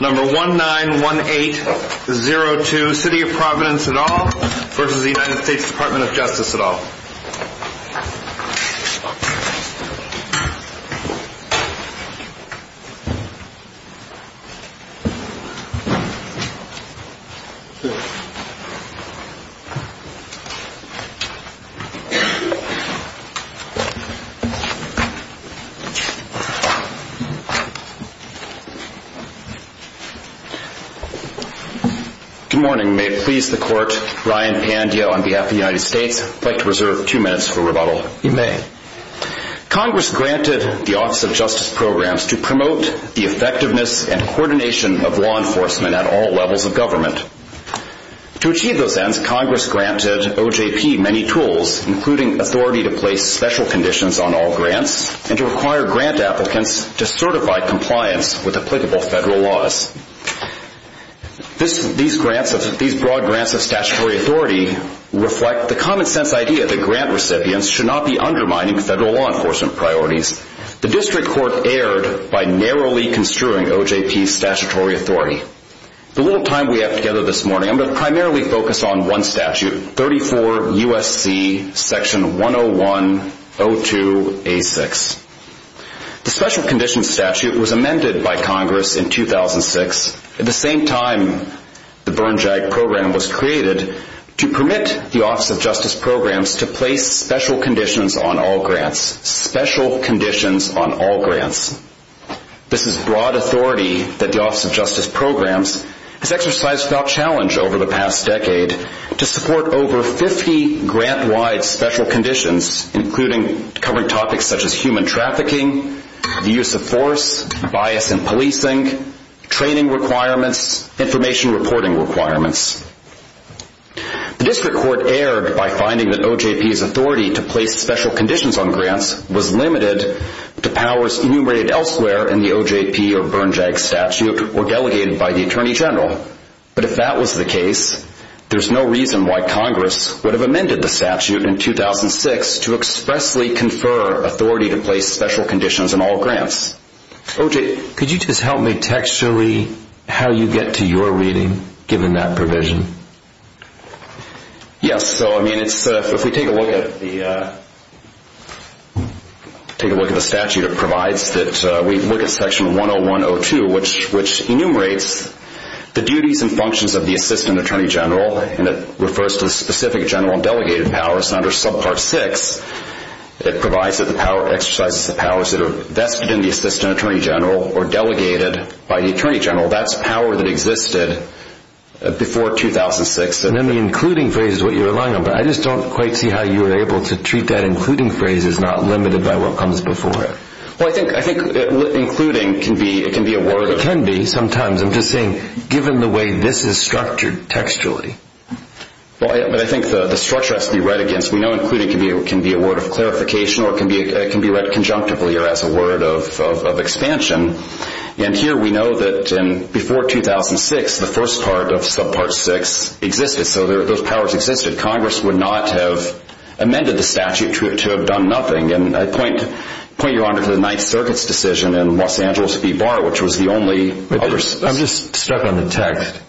Number 191802 City of Providence et al. v. US Department of Justice et al. Good morning. May it please the Court, Ryan Pandya on behalf of the United States. I'd like to reserve two minutes for rebuttal. You may. Congress granted the Office of Justice Programs to promote the effectiveness and coordination of law enforcement at all levels of government. To achieve those ends, Congress granted OJP many tools, including authority to place special conditions on all grants and to require grant applicants to certify compliance with applicable federal laws. These broad grants of statutory authority reflect the common sense idea that grant recipients should not be undermining federal law enforcement priorities. The District Court erred by narrowly construing OJP's statutory authority. The little time we have together this morning, I'm going to primarily focus on one statute, 34 U.S.C. Section 101-02-A6. The Special Conditions Statute was amended by Congress in 2006, at the same time the Burn JAG Program was created, to permit the Office of Justice Programs to place special conditions on all grants. Special conditions on all grants. This is broad authority that the Office of Justice Programs has exercised without challenge over the past decade to support over 50 grant-wide special conditions, including covering topics such as human trafficking, the use of force, bias in policing, training requirements, information reporting requirements. The District Court erred by finding that OJP's authority to place special conditions on grants was limited to powers enumerated elsewhere in the OJP or Burn JAG statute or delegated by the Attorney General. But if that was the case, there's no reason why Congress would have amended the statute in 2006 to expressly confer authority to place special conditions on all grants. OJ, could you just help me texture-y how you get to your reading, given that provision? Yes. So, I mean, if we take a look at the statute, it provides that we look at Section 101-02, which enumerates the duties and functions of the Assistant Attorney General, and it refers to the specific general and delegated powers under Subpart 6. It provides that the power exercises the powers that are vested in the Assistant Attorney General or delegated by the Attorney General. That's power that existed before 2006. And then the including phrase is what you're relying on, but I just don't quite see how you were able to treat that including phrase as not limited by what comes before it. Well, I think including can be a word. It can be sometimes. I'm just saying, given the way this is structured textually. Well, I think the structure has to be read against. We know including can be a word of clarification or it can be read conjunctively or as a word of expansion. And here we know that before 2006, the first part of Subpart 6 existed, so those powers existed. Congress would not have amended the statute to have done nothing. And I point Your Honor to the Ninth Circuit's decision in Los Angeles v. Barr, which was the only other... I'm just stuck on the text.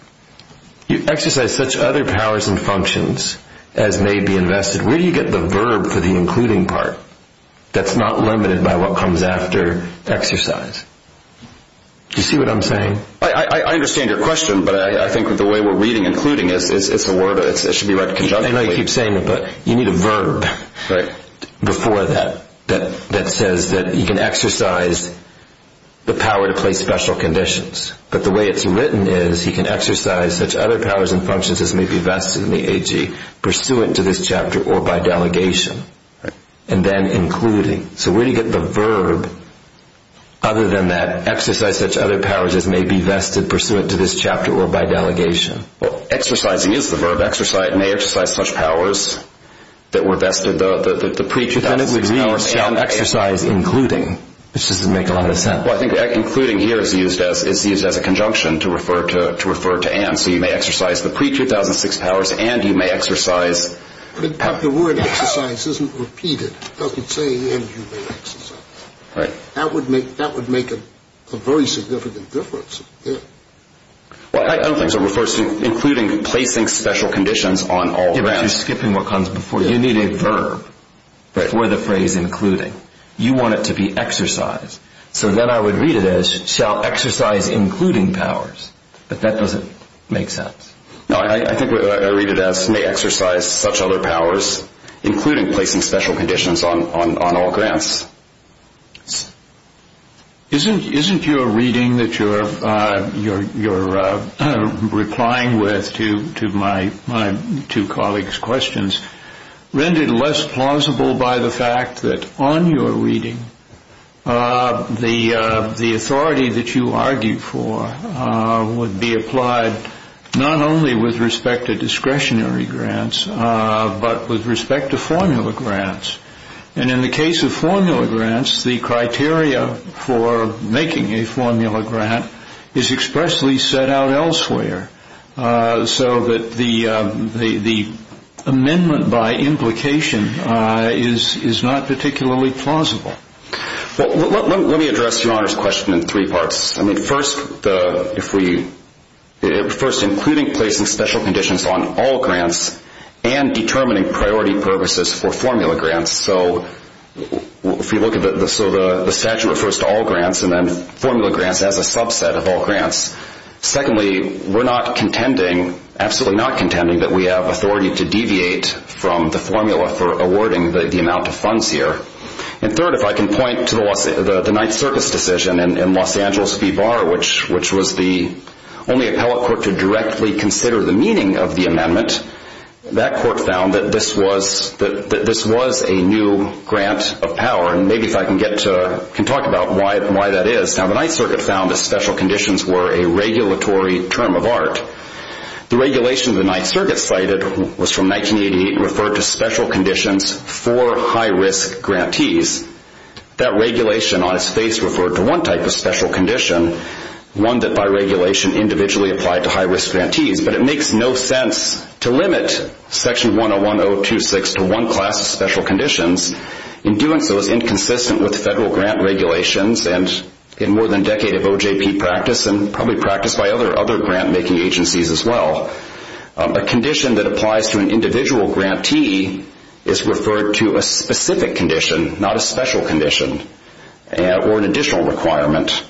You exercise such other powers and functions as may be invested. Where do you get the verb for the including part that's not limited by what comes after exercise? Do you see what I'm saying? I understand your question, but I think the way we're reading including, it's a word. It should be read conjunctively. I know you keep saying it, but you need a verb before that that says that you can exercise the power to place special conditions. But the way it's written is he can exercise such other powers and functions as may be vested in the AG, pursuant to this chapter or by delegation, and then including. So where do you get the verb other than that exercise such other powers as may be vested, pursuant to this chapter or by delegation? Well, exercising is the verb. Exercise may exercise such powers that were vested, the pre-2006 powers. But then it would read exercise including, which doesn't make a lot of sense. Well, I think including here is used as a conjunction to refer to Anne. So you may exercise the pre-2006 powers and you may exercise. But the word exercise isn't repeated. It doesn't say and you may exercise. Right. That would make a very significant difference here. Well, I don't think so. It refers to including placing special conditions on all the rounds. You're skipping what comes before. You need a verb for the phrase including. You want it to be exercise. So then I would read it as shall exercise including powers. But that doesn't make sense. No, I think what I read it as may exercise such other powers, including placing special conditions on all grants. Isn't your reading that you're replying with to my two colleagues' questions rendered less plausible by the fact that on your reading, the authority that you argue for would be applied not only with respect to discretionary grants but with respect to formula grants. And in the case of formula grants, the criteria for making a formula grant is expressly set out elsewhere so that the amendment by implication is not particularly plausible. Well, let me address Your Honor's question in three parts. I mean, first, including placing special conditions on all grants and determining priority purposes for formula grants. So if we look at the statute refers to all grants and then formula grants as a subset of all grants. Secondly, we're not contending, absolutely not contending, that we have authority to deviate from the formula for awarding the amount of funds here. And third, if I can point to the Ninth Circuit's decision in Los Angeles v. Barr, which was the only appellate court to directly consider the meaning of the amendment, that court found that this was a new grant of power. And maybe if I can talk about why that is. Now, the Ninth Circuit found that special conditions were a regulatory term of art. The regulation the Ninth Circuit cited was from 1988 and referred to special conditions for high-risk grantees. That regulation on its face referred to one type of special condition, one that by regulation individually applied to high-risk grantees. But it makes no sense to limit Section 101.026 to one class of special conditions. In doing so, it's inconsistent with federal grant regulations and in more than a decade of OJP practice and probably practice by other grant-making agencies as well. A condition that applies to an individual grantee is referred to a specific condition, not a special condition or an additional requirement.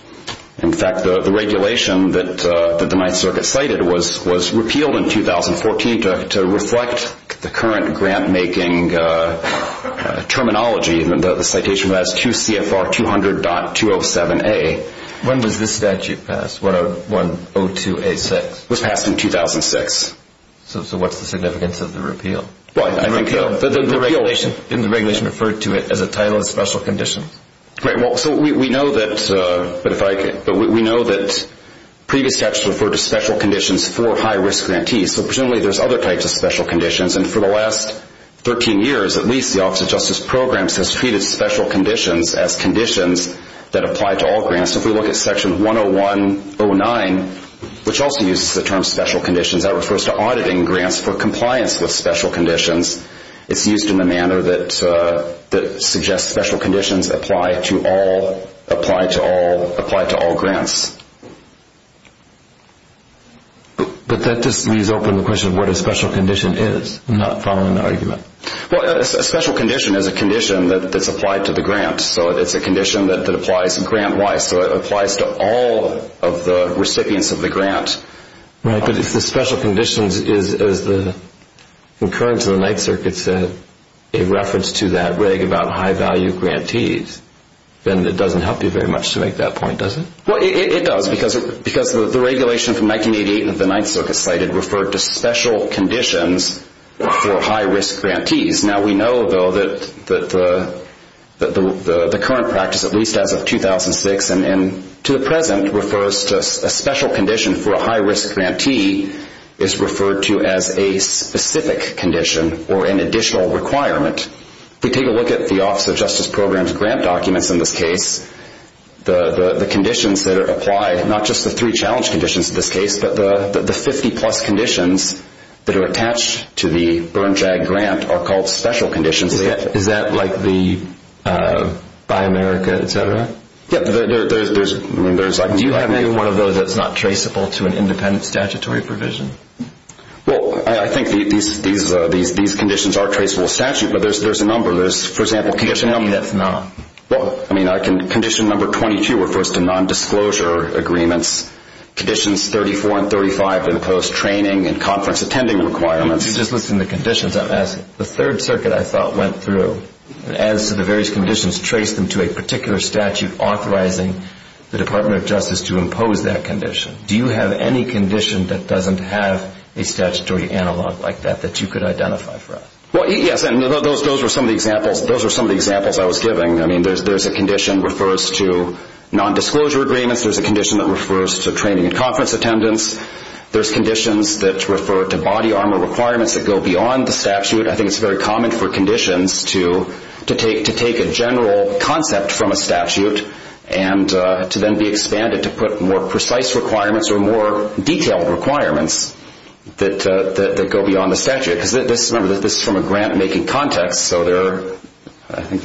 In fact, the regulation that the Ninth Circuit cited was repealed in 2014 to reflect the current grant-making terminology. The citation was QCFR 200.207A. When was this statute passed, 102A6? It was passed in 2006. So what's the significance of the repeal? The regulation referred to it as a title of special condition. We know that previous statutes referred to special conditions for high-risk grantees. So presumably there's other types of special conditions, and for the last 13 years at least the Office of Justice Programs has treated special conditions as conditions that apply to all grants. If we look at Section 101.09, which also uses the term special conditions, that refers to auditing grants for compliance with special conditions. It's used in a manner that suggests special conditions apply to all grants. But that just leaves open the question of what a special condition is. I'm not following the argument. Well, a special condition is a condition that's applied to the grant. So it's a condition that applies grant-wise. So it applies to all of the recipients of the grant. Right, but if the special condition is the occurrence of the Ninth Circuit said a reference to that reg about high-value grantees, then it doesn't help you very much to make that point, does it? Well, it does because the regulation from 1988 that the Ninth Circuit cited referred to special conditions for high-risk grantees. Now we know, though, that the current practice, at least as of 2006 and to the present, refers to a special condition for a high-risk grantee is referred to as a specific condition or an additional requirement. If we take a look at the Office of Justice Programs grant documents in this case, the conditions that are applied, not just the three challenge conditions in this case, but the 50-plus conditions that are attached to the Burn-Drag grant are called special conditions. Is that like the Buy America, et cetera? Yeah, there's like a number. Do you have any one of those that's not traceable to an independent statutory provision? Well, I think these conditions are traceable to statute, but there's a number. For example, can you just tell me that's not? Well, I mean, condition number 22 refers to nondisclosure agreements. Conditions 34 and 35 impose training and conference attending requirements. If you just listen to conditions, I'm asking. The Third Circuit, I thought, went through and as to the various conditions, traced them to a particular statute authorizing the Department of Justice to impose that condition. Do you have any condition that doesn't have a statutory analog like that that you could identify for us? Well, yes, and those are some of the examples I was giving. I mean, there's a condition that refers to nondisclosure agreements. There's a condition that refers to training and conference attendance. There's conditions that refer to body armor requirements that go beyond the statute. I think it's very common for conditions to take a general concept from a statute and to then be expanded to put more precise requirements or more detailed requirements that go beyond the statute. Remember, this is from a grant-making context, so I don't think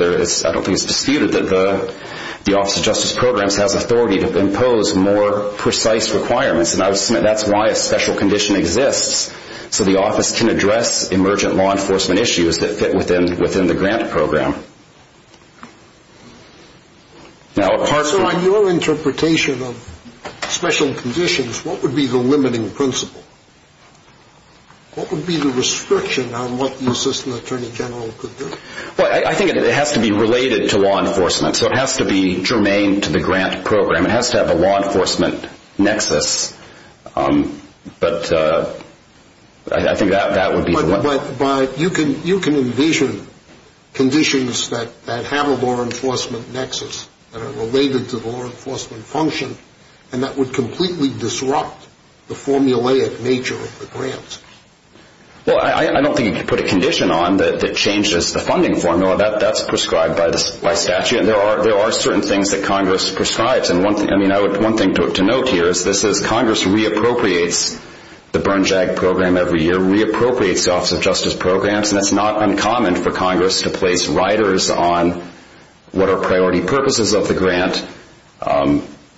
it's disputed that the Office of Justice Programs has authority to impose more precise requirements, and I would submit that's why a special condition exists, so the office can address emergent law enforcement issues that fit within the grant program. So on your interpretation of special conditions, what would be the limiting principle? What would be the restriction on what the assistant attorney general could do? Well, I think it has to be related to law enforcement, so it has to be germane to the grant program. It has to have a law enforcement nexus, but I think that would be the one. But you can envision conditions that have a law enforcement nexus that are related to the law enforcement function and that would completely disrupt the formulaic nature of the grants. Well, I don't think you could put a condition on that changes the funding formula. That's prescribed by statute, and there are certain things that Congress prescribes, and one thing to note here is this is Congress re-appropriates the burn-jag program every year, re-appropriates the Office of Justice Programs, and it's not uncommon for Congress to place riders on what are priority purposes of the grant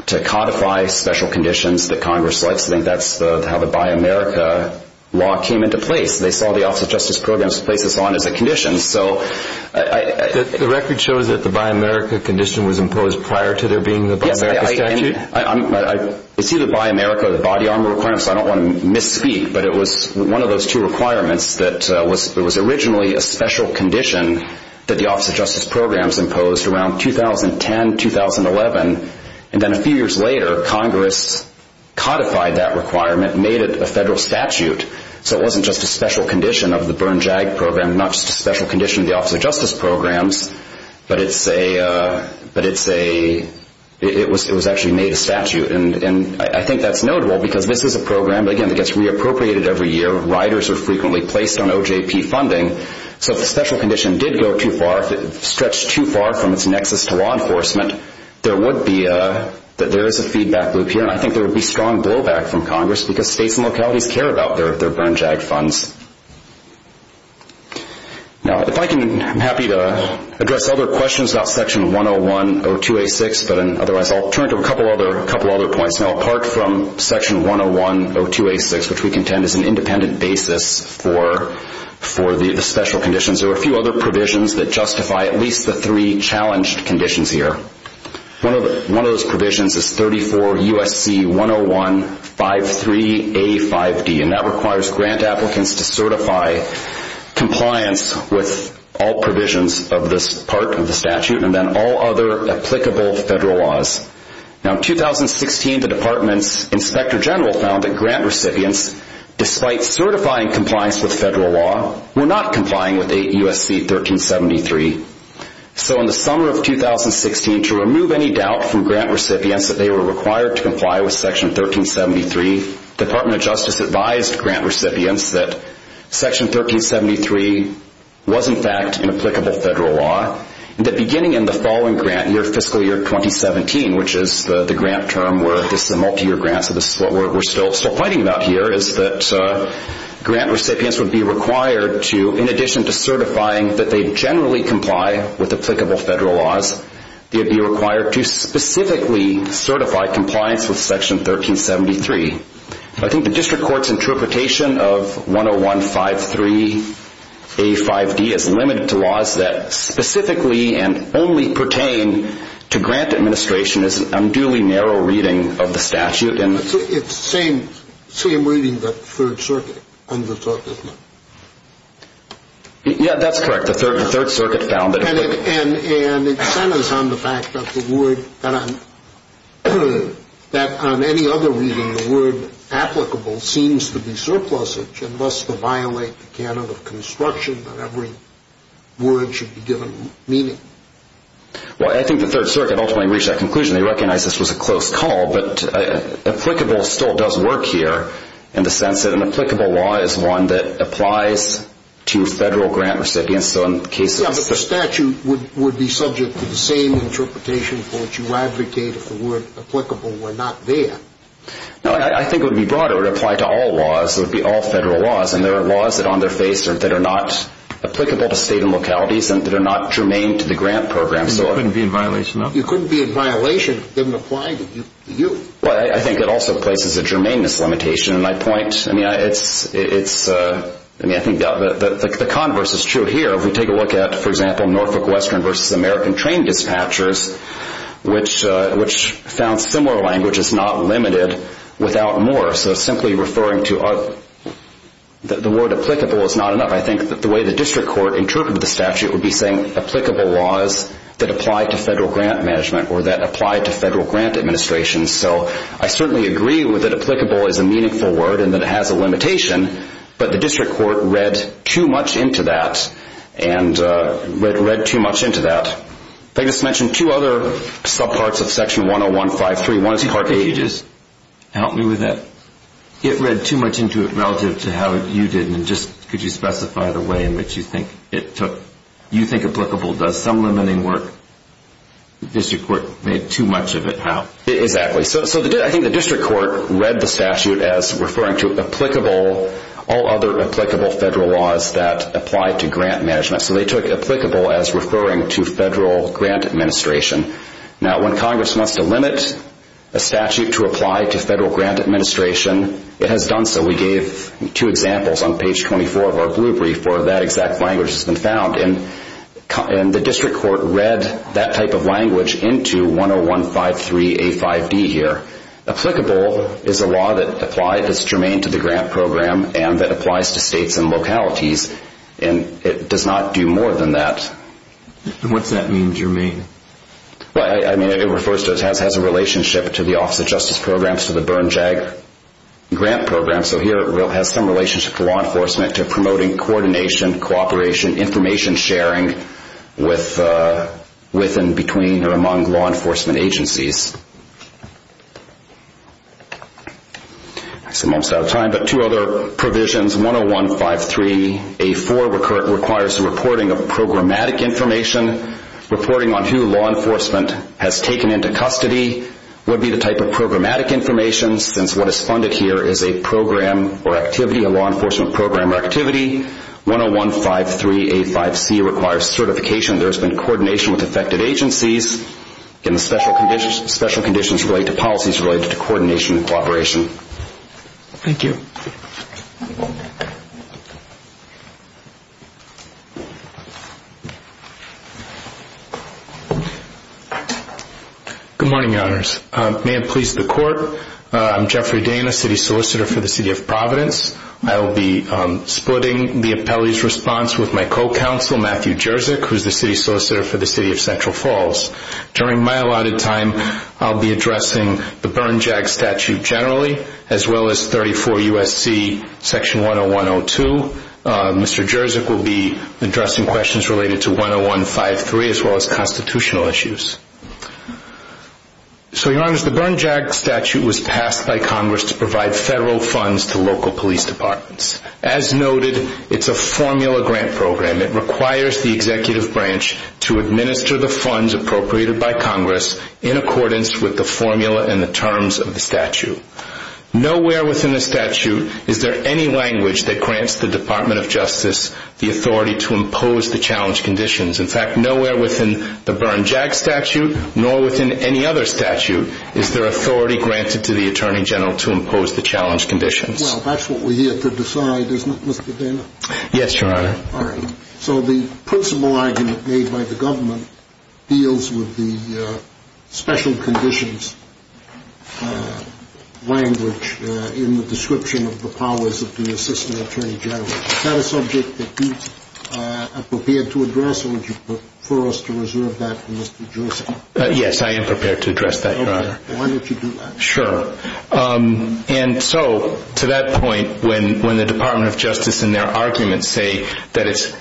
to codify special conditions that Congress likes. I think that's how the Buy America law came into place. They saw the Office of Justice Programs to place us on as a condition. The record shows that the Buy America condition was imposed prior to there being the Buy America statute? Yes, I see the Buy America body armor requirements, so I don't want to misspeak, but it was one of those two requirements that was originally a special condition that the Office of Justice Programs imposed around 2010, 2011, and then a few years later Congress codified that requirement and made it a federal statute, so it wasn't just a special condition of the burn-jag program, not just a special condition of the Office of Justice Programs, but it was actually made a statute, and I think that's notable because this is a program, again, that gets re-appropriated every year, riders are frequently placed on OJP funding, so if the special condition did stretch too far from its nexus to law enforcement, there is a feedback loop here, and I think there would be strong blowback from Congress because states and localities care about their burn-jag funds. I'm happy to address other questions about Section 101-02-86, but otherwise I'll turn to a couple other points. Now apart from Section 101-02-86, which we contend is an independent basis for the special conditions, there are a few other provisions that justify at least the three challenged conditions here. One of those provisions is 34 U.S.C. 101-53-85D, and that requires grant applicants to certify compliance with all provisions of this part of the statute and then all other applicable federal laws. Now in 2016, the Department's Inspector General found that grant recipients, despite certifying compliance with federal law, were not complying with 8 U.S.C. 1373. So in the summer of 2016, to remove any doubt from grant recipients that they were required to comply with Section 1373, the Department of Justice advised grant recipients that Section 1373 was in fact an applicable federal law and that beginning in the following grant year, fiscal year 2017, which is the grant term where this is a multi-year grant, so this is what we're still fighting about here, is that grant recipients would be required to, in addition to certifying that they generally comply with applicable federal laws, they would be required to specifically certify compliance with Section 1373. I think the district court's interpretation of 101-53-85D is limited to laws that specifically and only pertain to grant administration is an unduly narrow reading of the statute. It's the same reading that the Third Circuit undertook, isn't it? Yeah, that's correct. And it centers on the fact that on any other reading, the word applicable seems to be surplusage and thus to violate the canon of construction that every word should be given meaning. Well, I think the Third Circuit ultimately reached that conclusion. They recognized this was a close call, but applicable still does work here in the sense that an applicable law is one that applies to federal grant recipients. Yeah, but the statute would be subject to the same interpretation for which you advocate if the word applicable were not there. No, I think it would be broader. It would apply to all laws. It would be all federal laws, and there are laws that are on their face that are not applicable to state and localities and that are not germane to the grant program. And you couldn't be in violation of them? You couldn't be in violation if they didn't apply to you. Well, I think it also places a germaneness limitation. I mean, I think the converse is true here. If we take a look at, for example, Norfolk Western v. American Train Dispatchers, which found similar language is not limited without more. So simply referring to the word applicable is not enough. I think that the way the district court interpreted the statute would be saying that applied to federal grant management or that applied to federal grant administration. So I certainly agree that applicable is a meaningful word and that it has a limitation, but the district court read too much into that and read too much into that. They just mentioned two other subparts of Section 101.5.3. Help me with that. It read too much into it relative to how you did, and just could you specify the way in which you think it took, you think applicable does some limiting work? The district court made too much of it how? Exactly. So I think the district court read the statute as referring to applicable, all other applicable federal laws that apply to grant management. So they took applicable as referring to federal grant administration. Now, when Congress wants to limit a statute to apply to federal grant administration, it has done so. We gave two examples on page 24 of our blue brief where that exact language has been found, and the district court read that type of language into 101.5.3.A.5.D. here. Applicable is a law that's germane to the grant program and that applies to states and localities, and it does not do more than that. What's that mean, germane? It refers to it has a relationship to the Office of Justice Programs, and it applies to the Bern JAG grant program. So here it has some relationship to law enforcement, to promoting coordination, cooperation, information sharing with and between or among law enforcement agencies. I'm almost out of time, but two other provisions, 101.5.3.A.4. requires the reporting of programmatic information. Reporting on who law enforcement has taken into custody would be the type of programmatic information, since what is funded here is a program or activity, a law enforcement program or activity. 101.5.3.A.5.C. requires certification. There has been coordination with affected agencies, and the special conditions relate to policies related to coordination and cooperation. Thank you. Good morning, Your Honors. May it please the Court, I'm Jeffrey Dana, City Solicitor for the City of Providence. I will be splitting the appellee's response with my co-counsel, Matthew Jerzyk, who is the City Solicitor for the City of Central Falls. During my allotted time, I'll be addressing the Bern JAG statute generally, as well as 34 U.S.C. Section 101.02. Mr. Jerzyk will be addressing questions related to 101.5.3, as well as constitutional issues. So, Your Honors, the Bern JAG statute was passed by Congress to provide federal funds to local police departments. As noted, it's a formula grant program. It requires the executive branch to administer the funds appropriated by Congress in accordance with the formula and the terms of the statute. Nowhere within the statute is there any language that grants the Department of Justice the authority to impose the challenge conditions. In fact, nowhere within the Bern JAG statute, nor within any other statute, is there authority granted to the Attorney General to impose the challenge conditions. Well, that's what we're here to decide, isn't it, Mr. Dana? Yes, Your Honor. So the principal argument made by the government deals with the special conditions language in the description of the powers of the Assistant Attorney General. Is that a subject that you are prepared to address, or would you prefer us to reserve that for Mr. Jerzyk? Yes, I am prepared to address that, Your Honor. Okay. Why don't you do that? Sure. And so to that point, when the Department of Justice in their arguments say that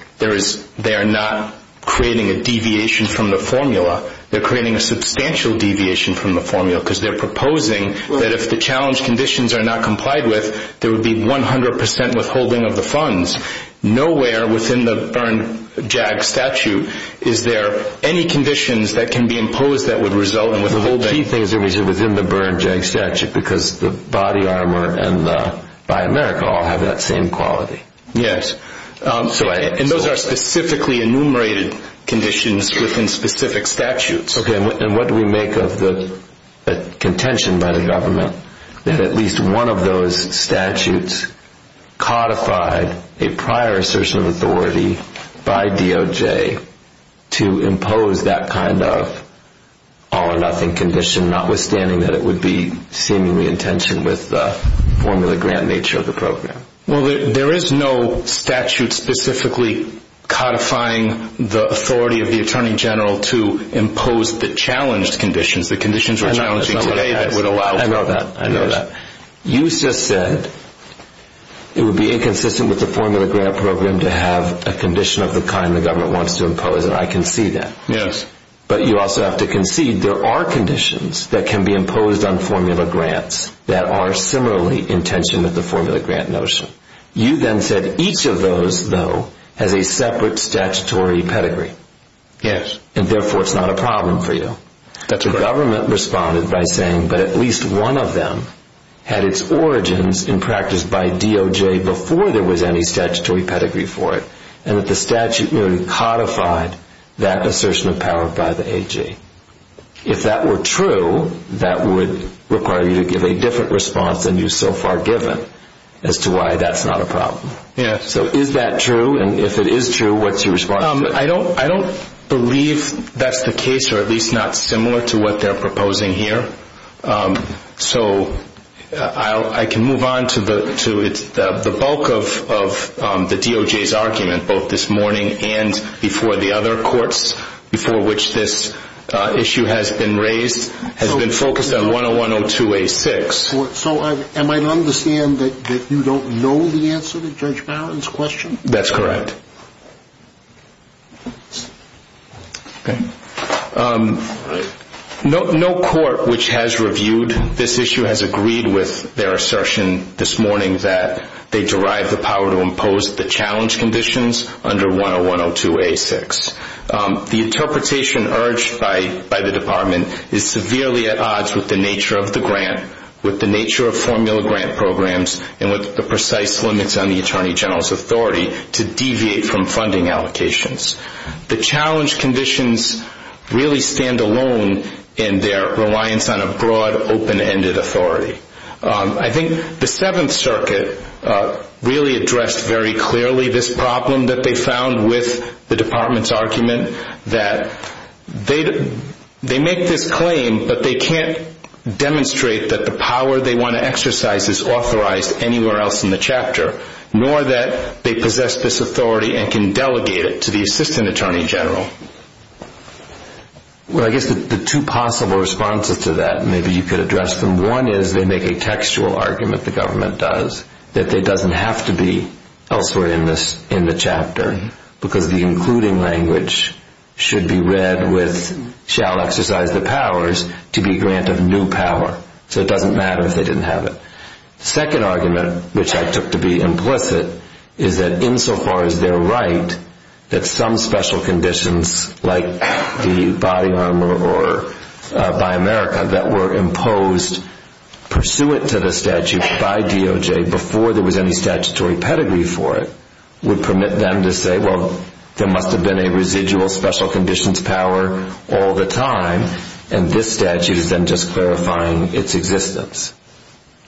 they are not creating a deviation from the formula, they're creating a substantial deviation from the formula because they're proposing that if the challenge conditions are not complied with, there would be 100 percent withholding of the funds. Nowhere within the Bern JAG statute is there any conditions that can be imposed that would result in withholding. The key thing is within the Bern JAG statute because the body armor and the Buy America all have that same quality. Yes. And those are specifically enumerated conditions within specific statutes. Okay. And what do we make of the contention by the government that at least one of those statutes codified a prior assertion of authority by DOJ to impose that kind of all-or-nothing condition, notwithstanding that it would be seemingly in tension with the formula grant nature of the program? Well, there is no statute specifically codifying the authority of the Attorney General to impose the challenged conditions, the conditions we're challenging today that would allow for that. I know that. I know that. You just said it would be inconsistent with the formula grant program to have a condition of the kind the government wants to impose, and I can see that. Yes. But you also have to concede there are conditions that can be imposed on formula grants that are similarly in tension with the formula grant notion. You then said each of those, though, has a separate statutory pedigree. Yes. And therefore it's not a problem for you. That's correct. The government responded by saying that at least one of them had its origins in practice by DOJ before there was any statutory pedigree for it, and that the statute merely codified that assertion of power by the AG. If that were true, that would require you to give a different response than you've so far given as to why that's not a problem. Yes. So is that true, and if it is true, what's your response to it? I don't believe that's the case, or at least not similar to what they're proposing here. So I can move on to the bulk of the DOJ's argument, both this morning and before the other courts, before which this issue has been raised, has been focused on 101-02-A-6. So am I to understand that you don't know the answer to Judge Barron's question? That's correct. Okay. No court which has reviewed this issue has agreed with their assertion this morning that they derive the power to impose the challenge conditions under 101-02-A-6. The interpretation urged by the Department is severely at odds with the nature of the grant, with the nature of formula grant programs, and with the precise limits on the Attorney General's authority to deviate from funding allocations. The challenge conditions really stand alone in their reliance on a broad, open-ended authority. I think the Seventh Circuit really addressed very clearly this problem that they found with the Department's argument that they make this claim, but they can't demonstrate that the power they want to exercise is authorized anywhere else in the chapter, nor that they possess this authority and can delegate it to the Assistant Attorney General. Well, I guess the two possible responses to that, maybe you could address them. One is they make a textual argument, the government does, that it doesn't have to be elsewhere in the chapter, because the including language should be read with, shall exercise the powers to be grant of new power. So it doesn't matter if they didn't have it. The second argument, which I took to be implicit, is that insofar as they're right that some special conditions, like the body armor by America that were imposed pursuant to the statute by DOJ before there was any statutory pedigree for it, would permit them to say, well, there must have been a residual special conditions power all the time, and this statute is then just clarifying its existence.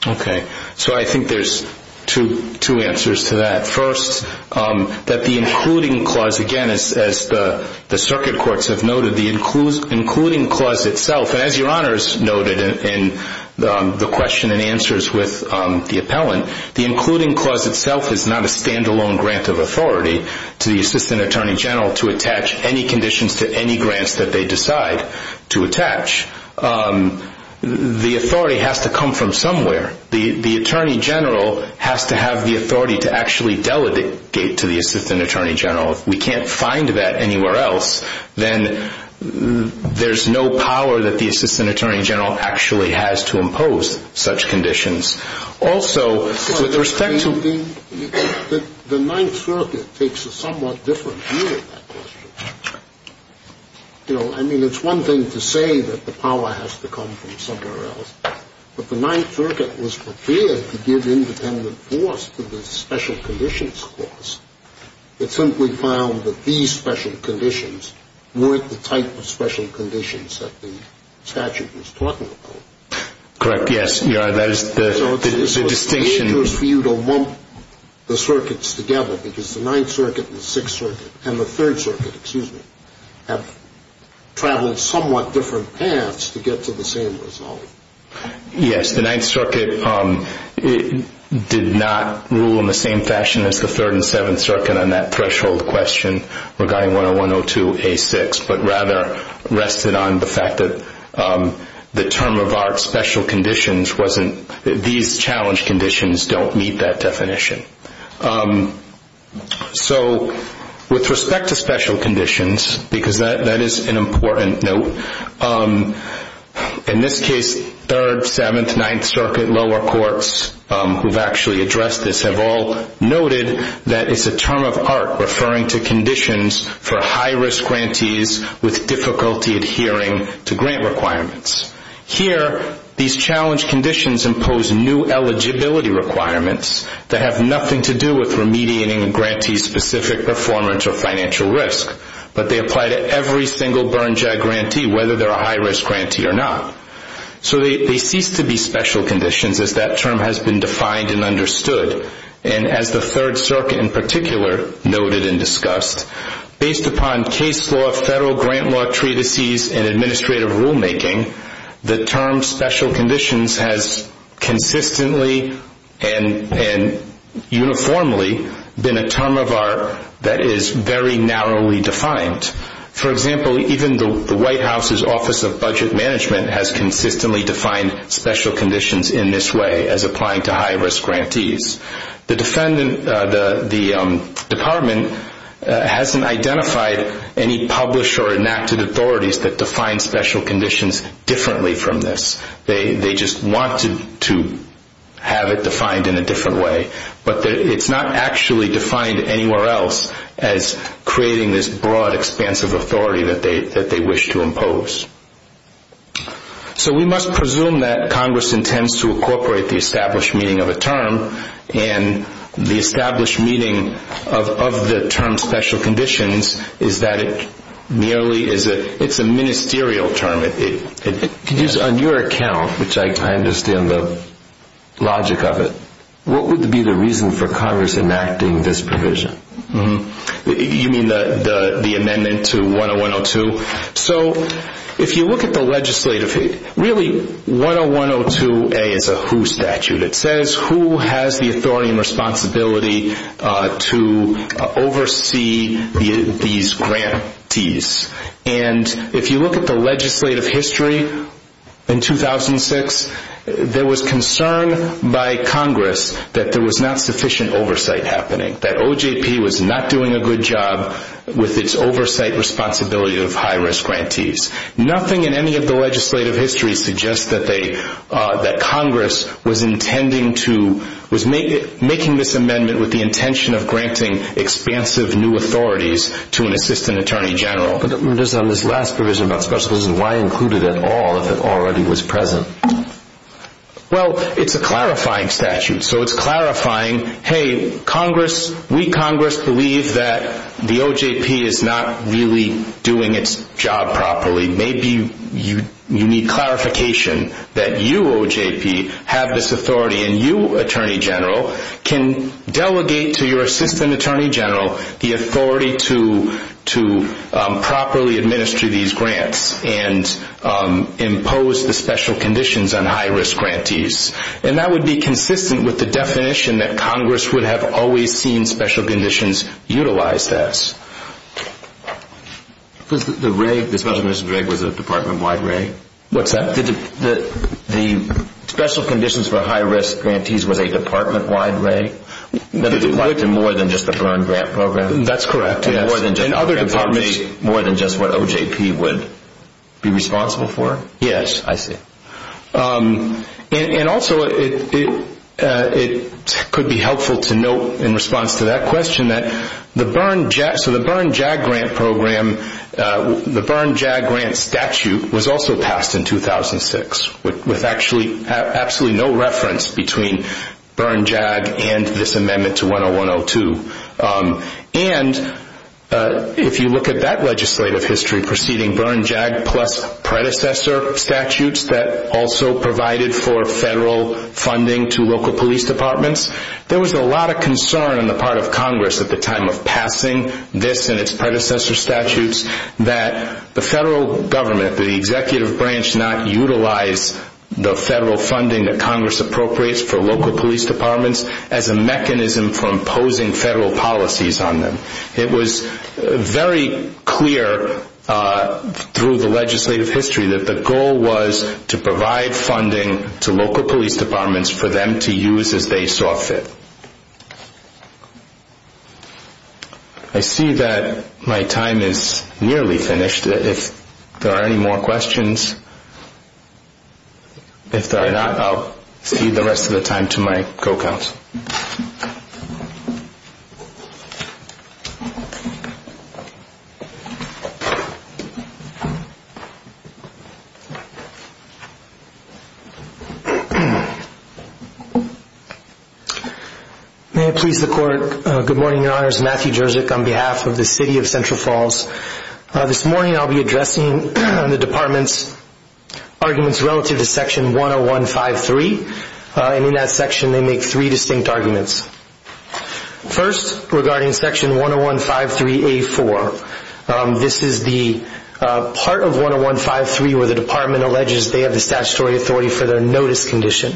Okay. So I think there's two answers to that. First, that the including clause, again, as the circuit courts have noted, the including clause itself, and as Your Honors noted in the question and answers with the appellant, the including clause itself is not a stand-alone grant of authority to the Assistant Attorney General to attach any conditions to any grants that they decide to attach. The authority has to come from somewhere. The Attorney General has to have the authority to actually delegate to the Assistant Attorney General. If we can't find that anywhere else, then there's no power that the Assistant Attorney General actually has to impose such conditions. Also, with respect to the ninth circuit takes a somewhat different view of that question. You know, I mean, it's one thing to say that the power has to come from somewhere else, but the ninth circuit was prepared to give independent force to the special conditions clause. It simply found that these special conditions weren't the type of special conditions that the statute was talking about. Correct. Yes. That is the distinction. So it's dangerous for you to lump the circuits together, because the ninth circuit and the sixth circuit and the third circuit, excuse me, have traveled somewhat different paths to get to the same result. Yes, the ninth circuit did not rule in the same fashion as the third and seventh circuit on that threshold question regarding 101-02-A6, but rather rested on the fact that the term of art special conditions wasn't, these challenge conditions don't meet that definition. So with respect to special conditions, because that is an important note, in this case, third, seventh, ninth circuit, lower courts, who have actually addressed this, have all noted that it's a term of art referring to conditions for high-risk grantees with difficulty adhering to grant requirements. Here, these challenge conditions impose new eligibility requirements that have nothing to do with remediating a grantee's specific performance or financial risk, but they apply to every single burn-jag grantee, whether they're a high-risk grantee or not. So they cease to be special conditions as that term has been defined and understood. And as the third circuit in particular noted and discussed, based upon case law, federal grant law treatises, and administrative rulemaking, the term special conditions has consistently and uniformly been a term of art that is very narrowly defined. For example, even the White House's Office of Budget Management has consistently defined special conditions in this way as applying to high-risk grantees. The department hasn't identified any published or enacted authorities that define special conditions differently from this. They just want to have it defined in a different way. But it's not actually defined anywhere else as creating this broad, expansive authority that they wish to impose. So we must presume that Congress intends to incorporate the established meaning of a term, and the established meaning of the term special conditions is that it merely is a ministerial term. On your account, which I understand the logic of it, what would be the reason for Congress enacting this provision? You mean the amendment to 10102? So if you look at the legislative, really 10102A is a who statute. It says who has the authority and responsibility to oversee these grantees. And if you look at the legislative history in 2006, there was concern by Congress that there was not sufficient oversight happening, that OJP was not doing a good job with its oversight responsibility of high-risk grantees. Nothing in any of the legislative history suggests that Congress was making this amendment with the intention of granting expansive new authorities to an assistant attorney general. But on this last provision about special conditions, why include it at all if it already was present? Well, it's a clarifying statute. So it's clarifying, hey, we, Congress, believe that the OJP is not really doing its job properly. Maybe you need clarification that you, OJP, have this authority, and you, Attorney General, can delegate to your assistant attorney general the authority to properly administer these grants and impose the special conditions on high-risk grantees. And that would be consistent with the definition that Congress would have always seen special conditions utilized as. The special conditions reg was a department-wide reg? What's that? The special conditions for high-risk grantees was a department-wide reg? More than just the Byrne Grant Program? That's correct. More than just what OJP would be responsible for? Yes. I see. And also, it could be helpful to note in response to that question that the Byrne JAG Grant Program, the Byrne JAG Grant statute was also passed in 2006 with absolutely no reference between Byrne JAG and this amendment to 101-02. And if you look at that legislative history preceding Byrne JAG plus predecessor statutes that also provided for federal funding to local police departments, there was a lot of concern on the part of Congress at the time of passing this and its predecessor statutes that the federal government, the executive branch not utilize the federal funding that Congress appropriates for local police departments as a mechanism for imposing federal policies on them. It was very clear through the legislative history that the goal was to provide funding to local police departments for them to use as they saw fit. I see that my time is nearly finished. If there are any more questions, if there are not, I'll cede the rest of the time to my co-counsel. May it please the Court. Good morning, Your Honors. Matthew Jerzyk on behalf of the City of Central Falls. This morning I'll be addressing the department's arguments relative to Section 101-53. And in that section they make three distinct arguments. First, regarding Section 101-53A-4. This is the part of 101-53 where the department alleges they have the statutory authority for their notice condition.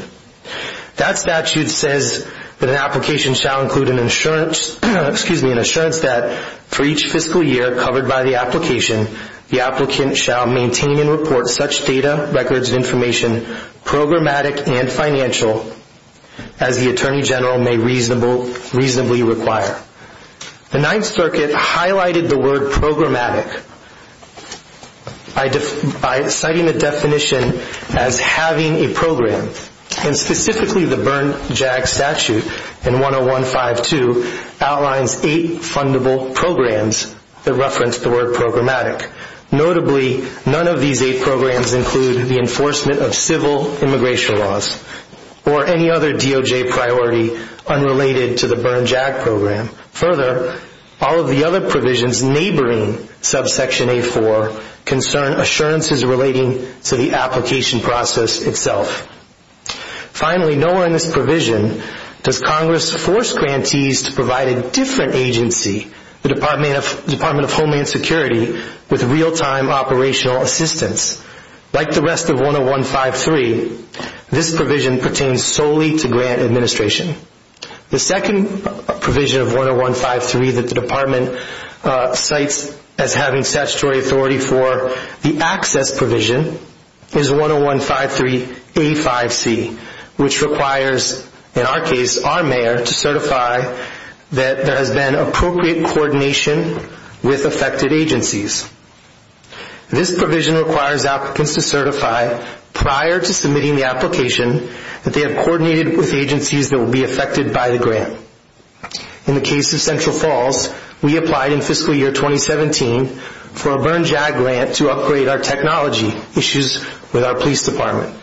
That statute says that an application shall include an assurance that for each fiscal year covered by the application, the applicant shall maintain and report such data, records of information, programmatic and financial, as the Attorney General may reasonably require. The Ninth Circuit highlighted the word programmatic by citing the definition as having a program. And specifically the Bern JAG statute in 101-52 outlines eight fundable programs that reference the word programmatic. Notably, none of these eight programs include the enforcement of civil immigration laws or any other DOJ priority unrelated to the Bern JAG program. Further, all of the other provisions neighboring subsection A-4 concern assurances relating to the application process itself. Finally, nowhere in this provision does Congress force grantees to provide a different agency, the Department of Homeland Security, with real-time operational assistance. Like the rest of 101-53, this provision pertains solely to grant administration. The second provision of 101-53 that the department cites as having statutory authority for the access provision is 101-53A-5C, which requires, in our case, our mayor to certify that there has been appropriate coordination with affected agencies. This provision requires applicants to certify prior to submitting the application that they have coordinated with agencies that will be affected by the grant. In the case of Central Falls, we applied in fiscal year 2017 for a Bern JAG grant to upgrade our technology issues with our police department.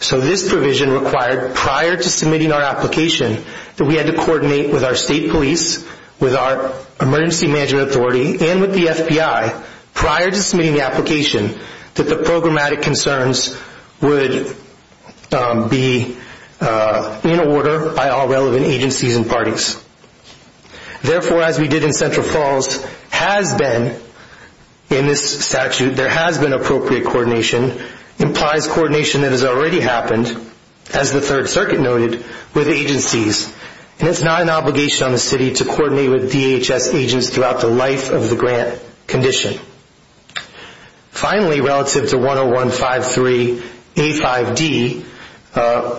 So this provision required prior to submitting our application that we had to coordinate with our state police, with our emergency management authority, and with the FBI prior to submitting the application that the programmatic concerns would be in order by all relevant agencies and parties. Therefore, as we did in Central Falls, has been, in this statute, there has been appropriate coordination, implies coordination that has already happened, as the Third Circuit noted, with agencies. And it's not an obligation on the city to coordinate with DHS agents throughout the life of the grant condition. Finally, relative to 101-53A-5D,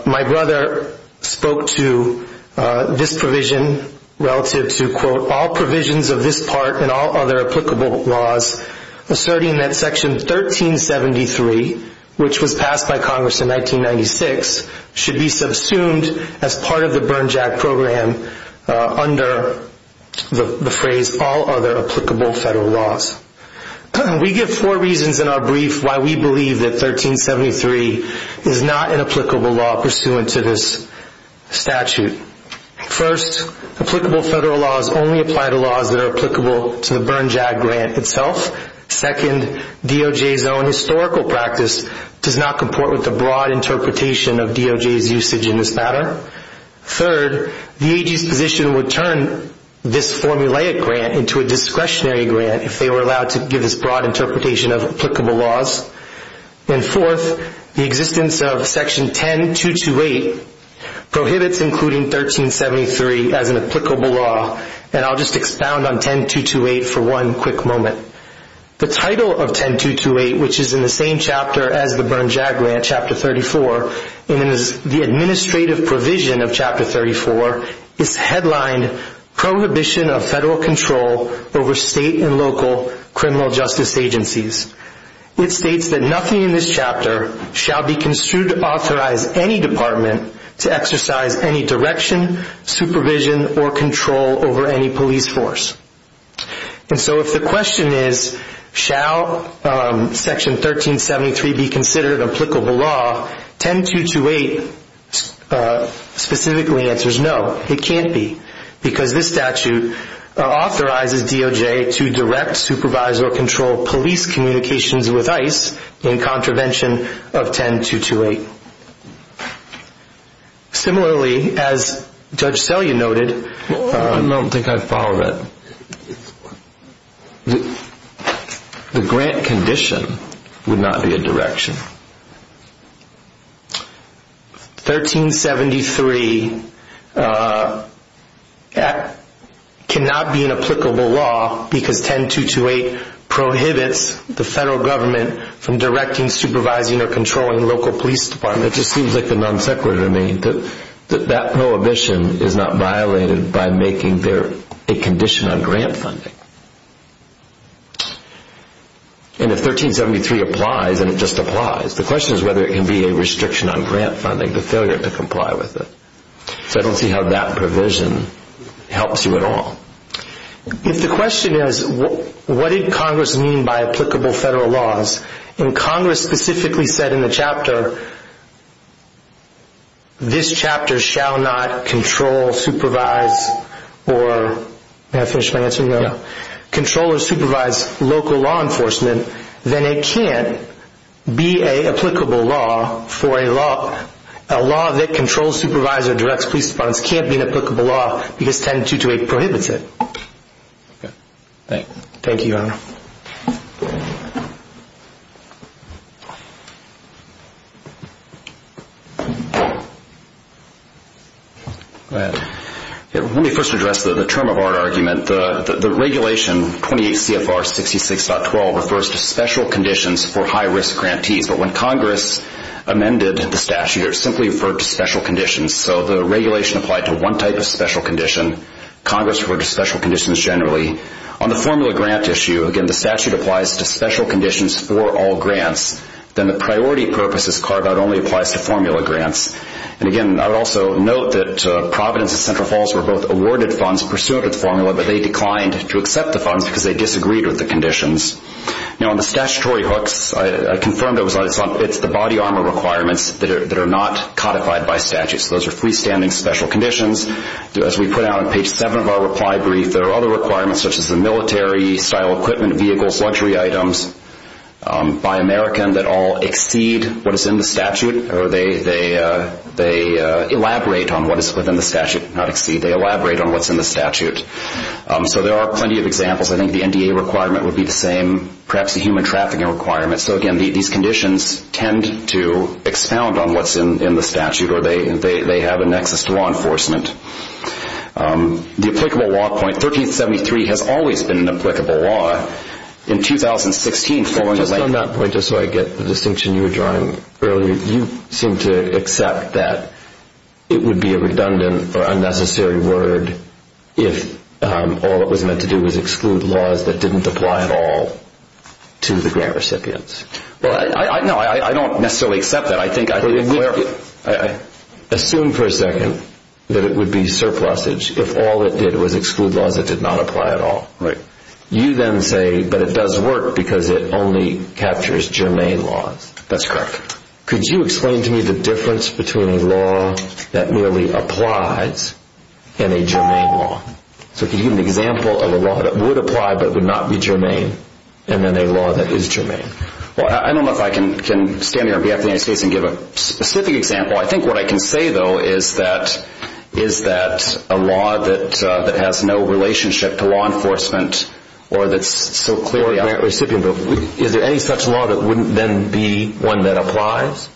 my brother spoke to this provision relative to, quote, all provisions of this part and all other applicable laws asserting that Section 1373, which was passed by Congress in 1996, should be subsumed as part of the Bern JAG program under the phrase all other applicable federal laws. We give four reasons in our brief why we believe that 1373 is not an applicable law pursuant to this statute. First, applicable federal laws only apply to laws that are applicable to the Bern JAG grant itself. Second, DOJ's own historical practice does not comport with the broad interpretation of DOJ's usage in this matter. Third, the AG's position would turn this formulaic grant into a discretionary grant if they were allowed to give this broad interpretation of applicable laws. And fourth, the existence of Section 10-228 prohibits including 1373 as an applicable law. And I'll just expound on 10-228 for one quick moment. The title of 10-228, which is in the same chapter as the Bern JAG grant, Chapter 34, and is the administrative provision of Chapter 34, is headlined Prohibition of Federal Control over State and Local Criminal Justice Agencies. It states that nothing in this chapter shall be construed to authorize any department to exercise any direction, supervision, or control over any police force. And so if the question is, shall Section 1373 be considered an applicable law, 10-228 specifically answers no, it can't be. Because this statute authorizes DOJ to direct, supervise, or control police communications with ICE in contravention of 10-228. Similarly, as Judge Selya noted, I don't think I follow that. The grant condition would not be a direction. 1373 cannot be an applicable law because 10-228 prohibits the federal government from directing, supervising, or controlling local police departments. It just seems like the non sequitur to me. That prohibition is not violated by making there a condition on grant funding. And if 1373 applies, and it just applies, the question is whether it can be a restriction on grant funding, the failure to comply with it. So I don't see how that provision helps you at all. If the question is, what did Congress mean by applicable federal laws, and Congress specifically said in the chapter, this chapter shall not control, supervise, or, did I finish my answer? Yeah. Control or supervise local law enforcement, then it can't be an applicable law for a law, a law that controls, supervises, or directs police departments can't be an applicable law because 10-228 prohibits it. Okay. Thank you. Thank you, Your Honor. Go ahead. Let me first address the term of art argument. The regulation, 28 CFR 66.12, refers to special conditions for high-risk grantees. But when Congress amended the statute, it simply referred to special conditions. So the regulation applied to one type of special condition. Congress referred to special conditions generally. On the formula grant issue, again, the statute applies to special conditions for all grants. Then the priority purposes carve-out only applies to formula grants. And, again, I would also note that Providence and Central Falls were both awarded funds pursuant to the formula, but they declined to accept the funds because they disagreed with the conditions. Now, on the statutory hooks, I confirmed it was on, it's the body armor requirements that are not codified by statute. So those are freestanding special conditions. As we put out on page 7 of our reply brief, there are other requirements, such as the military-style equipment, vehicles, luxury items, by American, that all exceed what is in the statute or they elaborate on what is within the statute, not exceed. They elaborate on what's in the statute. So there are plenty of examples. I think the NDA requirement would be the same, perhaps the human trafficking requirement. So, again, these conditions tend to expound on what's in the statute or they have a nexus to law enforcement. The applicable law point, 1373, has always been an applicable law. In 2016, following the legislation... Just on that point, just so I get the distinction you were drawing earlier, you seem to accept that it would be a redundant or unnecessary word if all it was meant to do was exclude laws that didn't apply at all to the grant recipients. No, I don't necessarily accept that. Assume for a second that it would be surplusage if all it did was exclude laws that did not apply at all. You then say, but it does work because it only captures germane laws. That's correct. Could you explain to me the difference between a law that merely applies and a germane law? So can you give an example of a law that would apply but would not be germane and then a law that is germane? Well, I don't know if I can stand here on behalf of the United States and give a specific example. I think what I can say, though, is that a law that has no relationship to law enforcement or that's so clearly... Or a grant recipient. Is there any such law that wouldn't then be one that applies?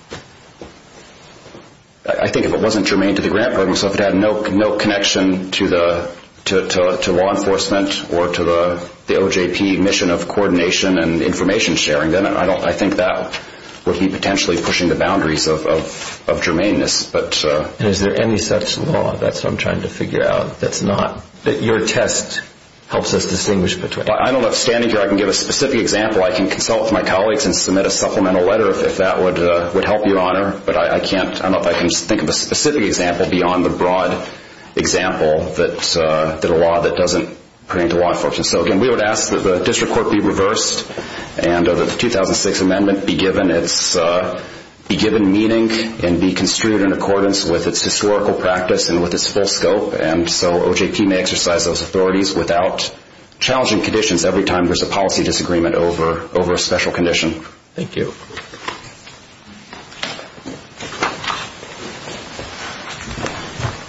I think if it wasn't germane to the grant program, so if it had no connection to law enforcement or to the OJP mission of coordination and information sharing, then I think that would be potentially pushing the boundaries of germaneness. And is there any such law? That's what I'm trying to figure out that's not. That your test helps us distinguish between. I don't know if standing here I can give a specific example. I can consult with my colleagues and submit a supplemental letter if that would help you, Honor. But I can't. I don't know if I can think of a specific example beyond the broad example that a law that doesn't pertain to law enforcement. So, again, we would ask that the district court be reversed and that the 2006 amendment be given meaning and be construed in accordance with its historical practice and with its full scope. And so OJP may exercise those authorities without challenging conditions every time there's a policy disagreement over a special condition. Thank you.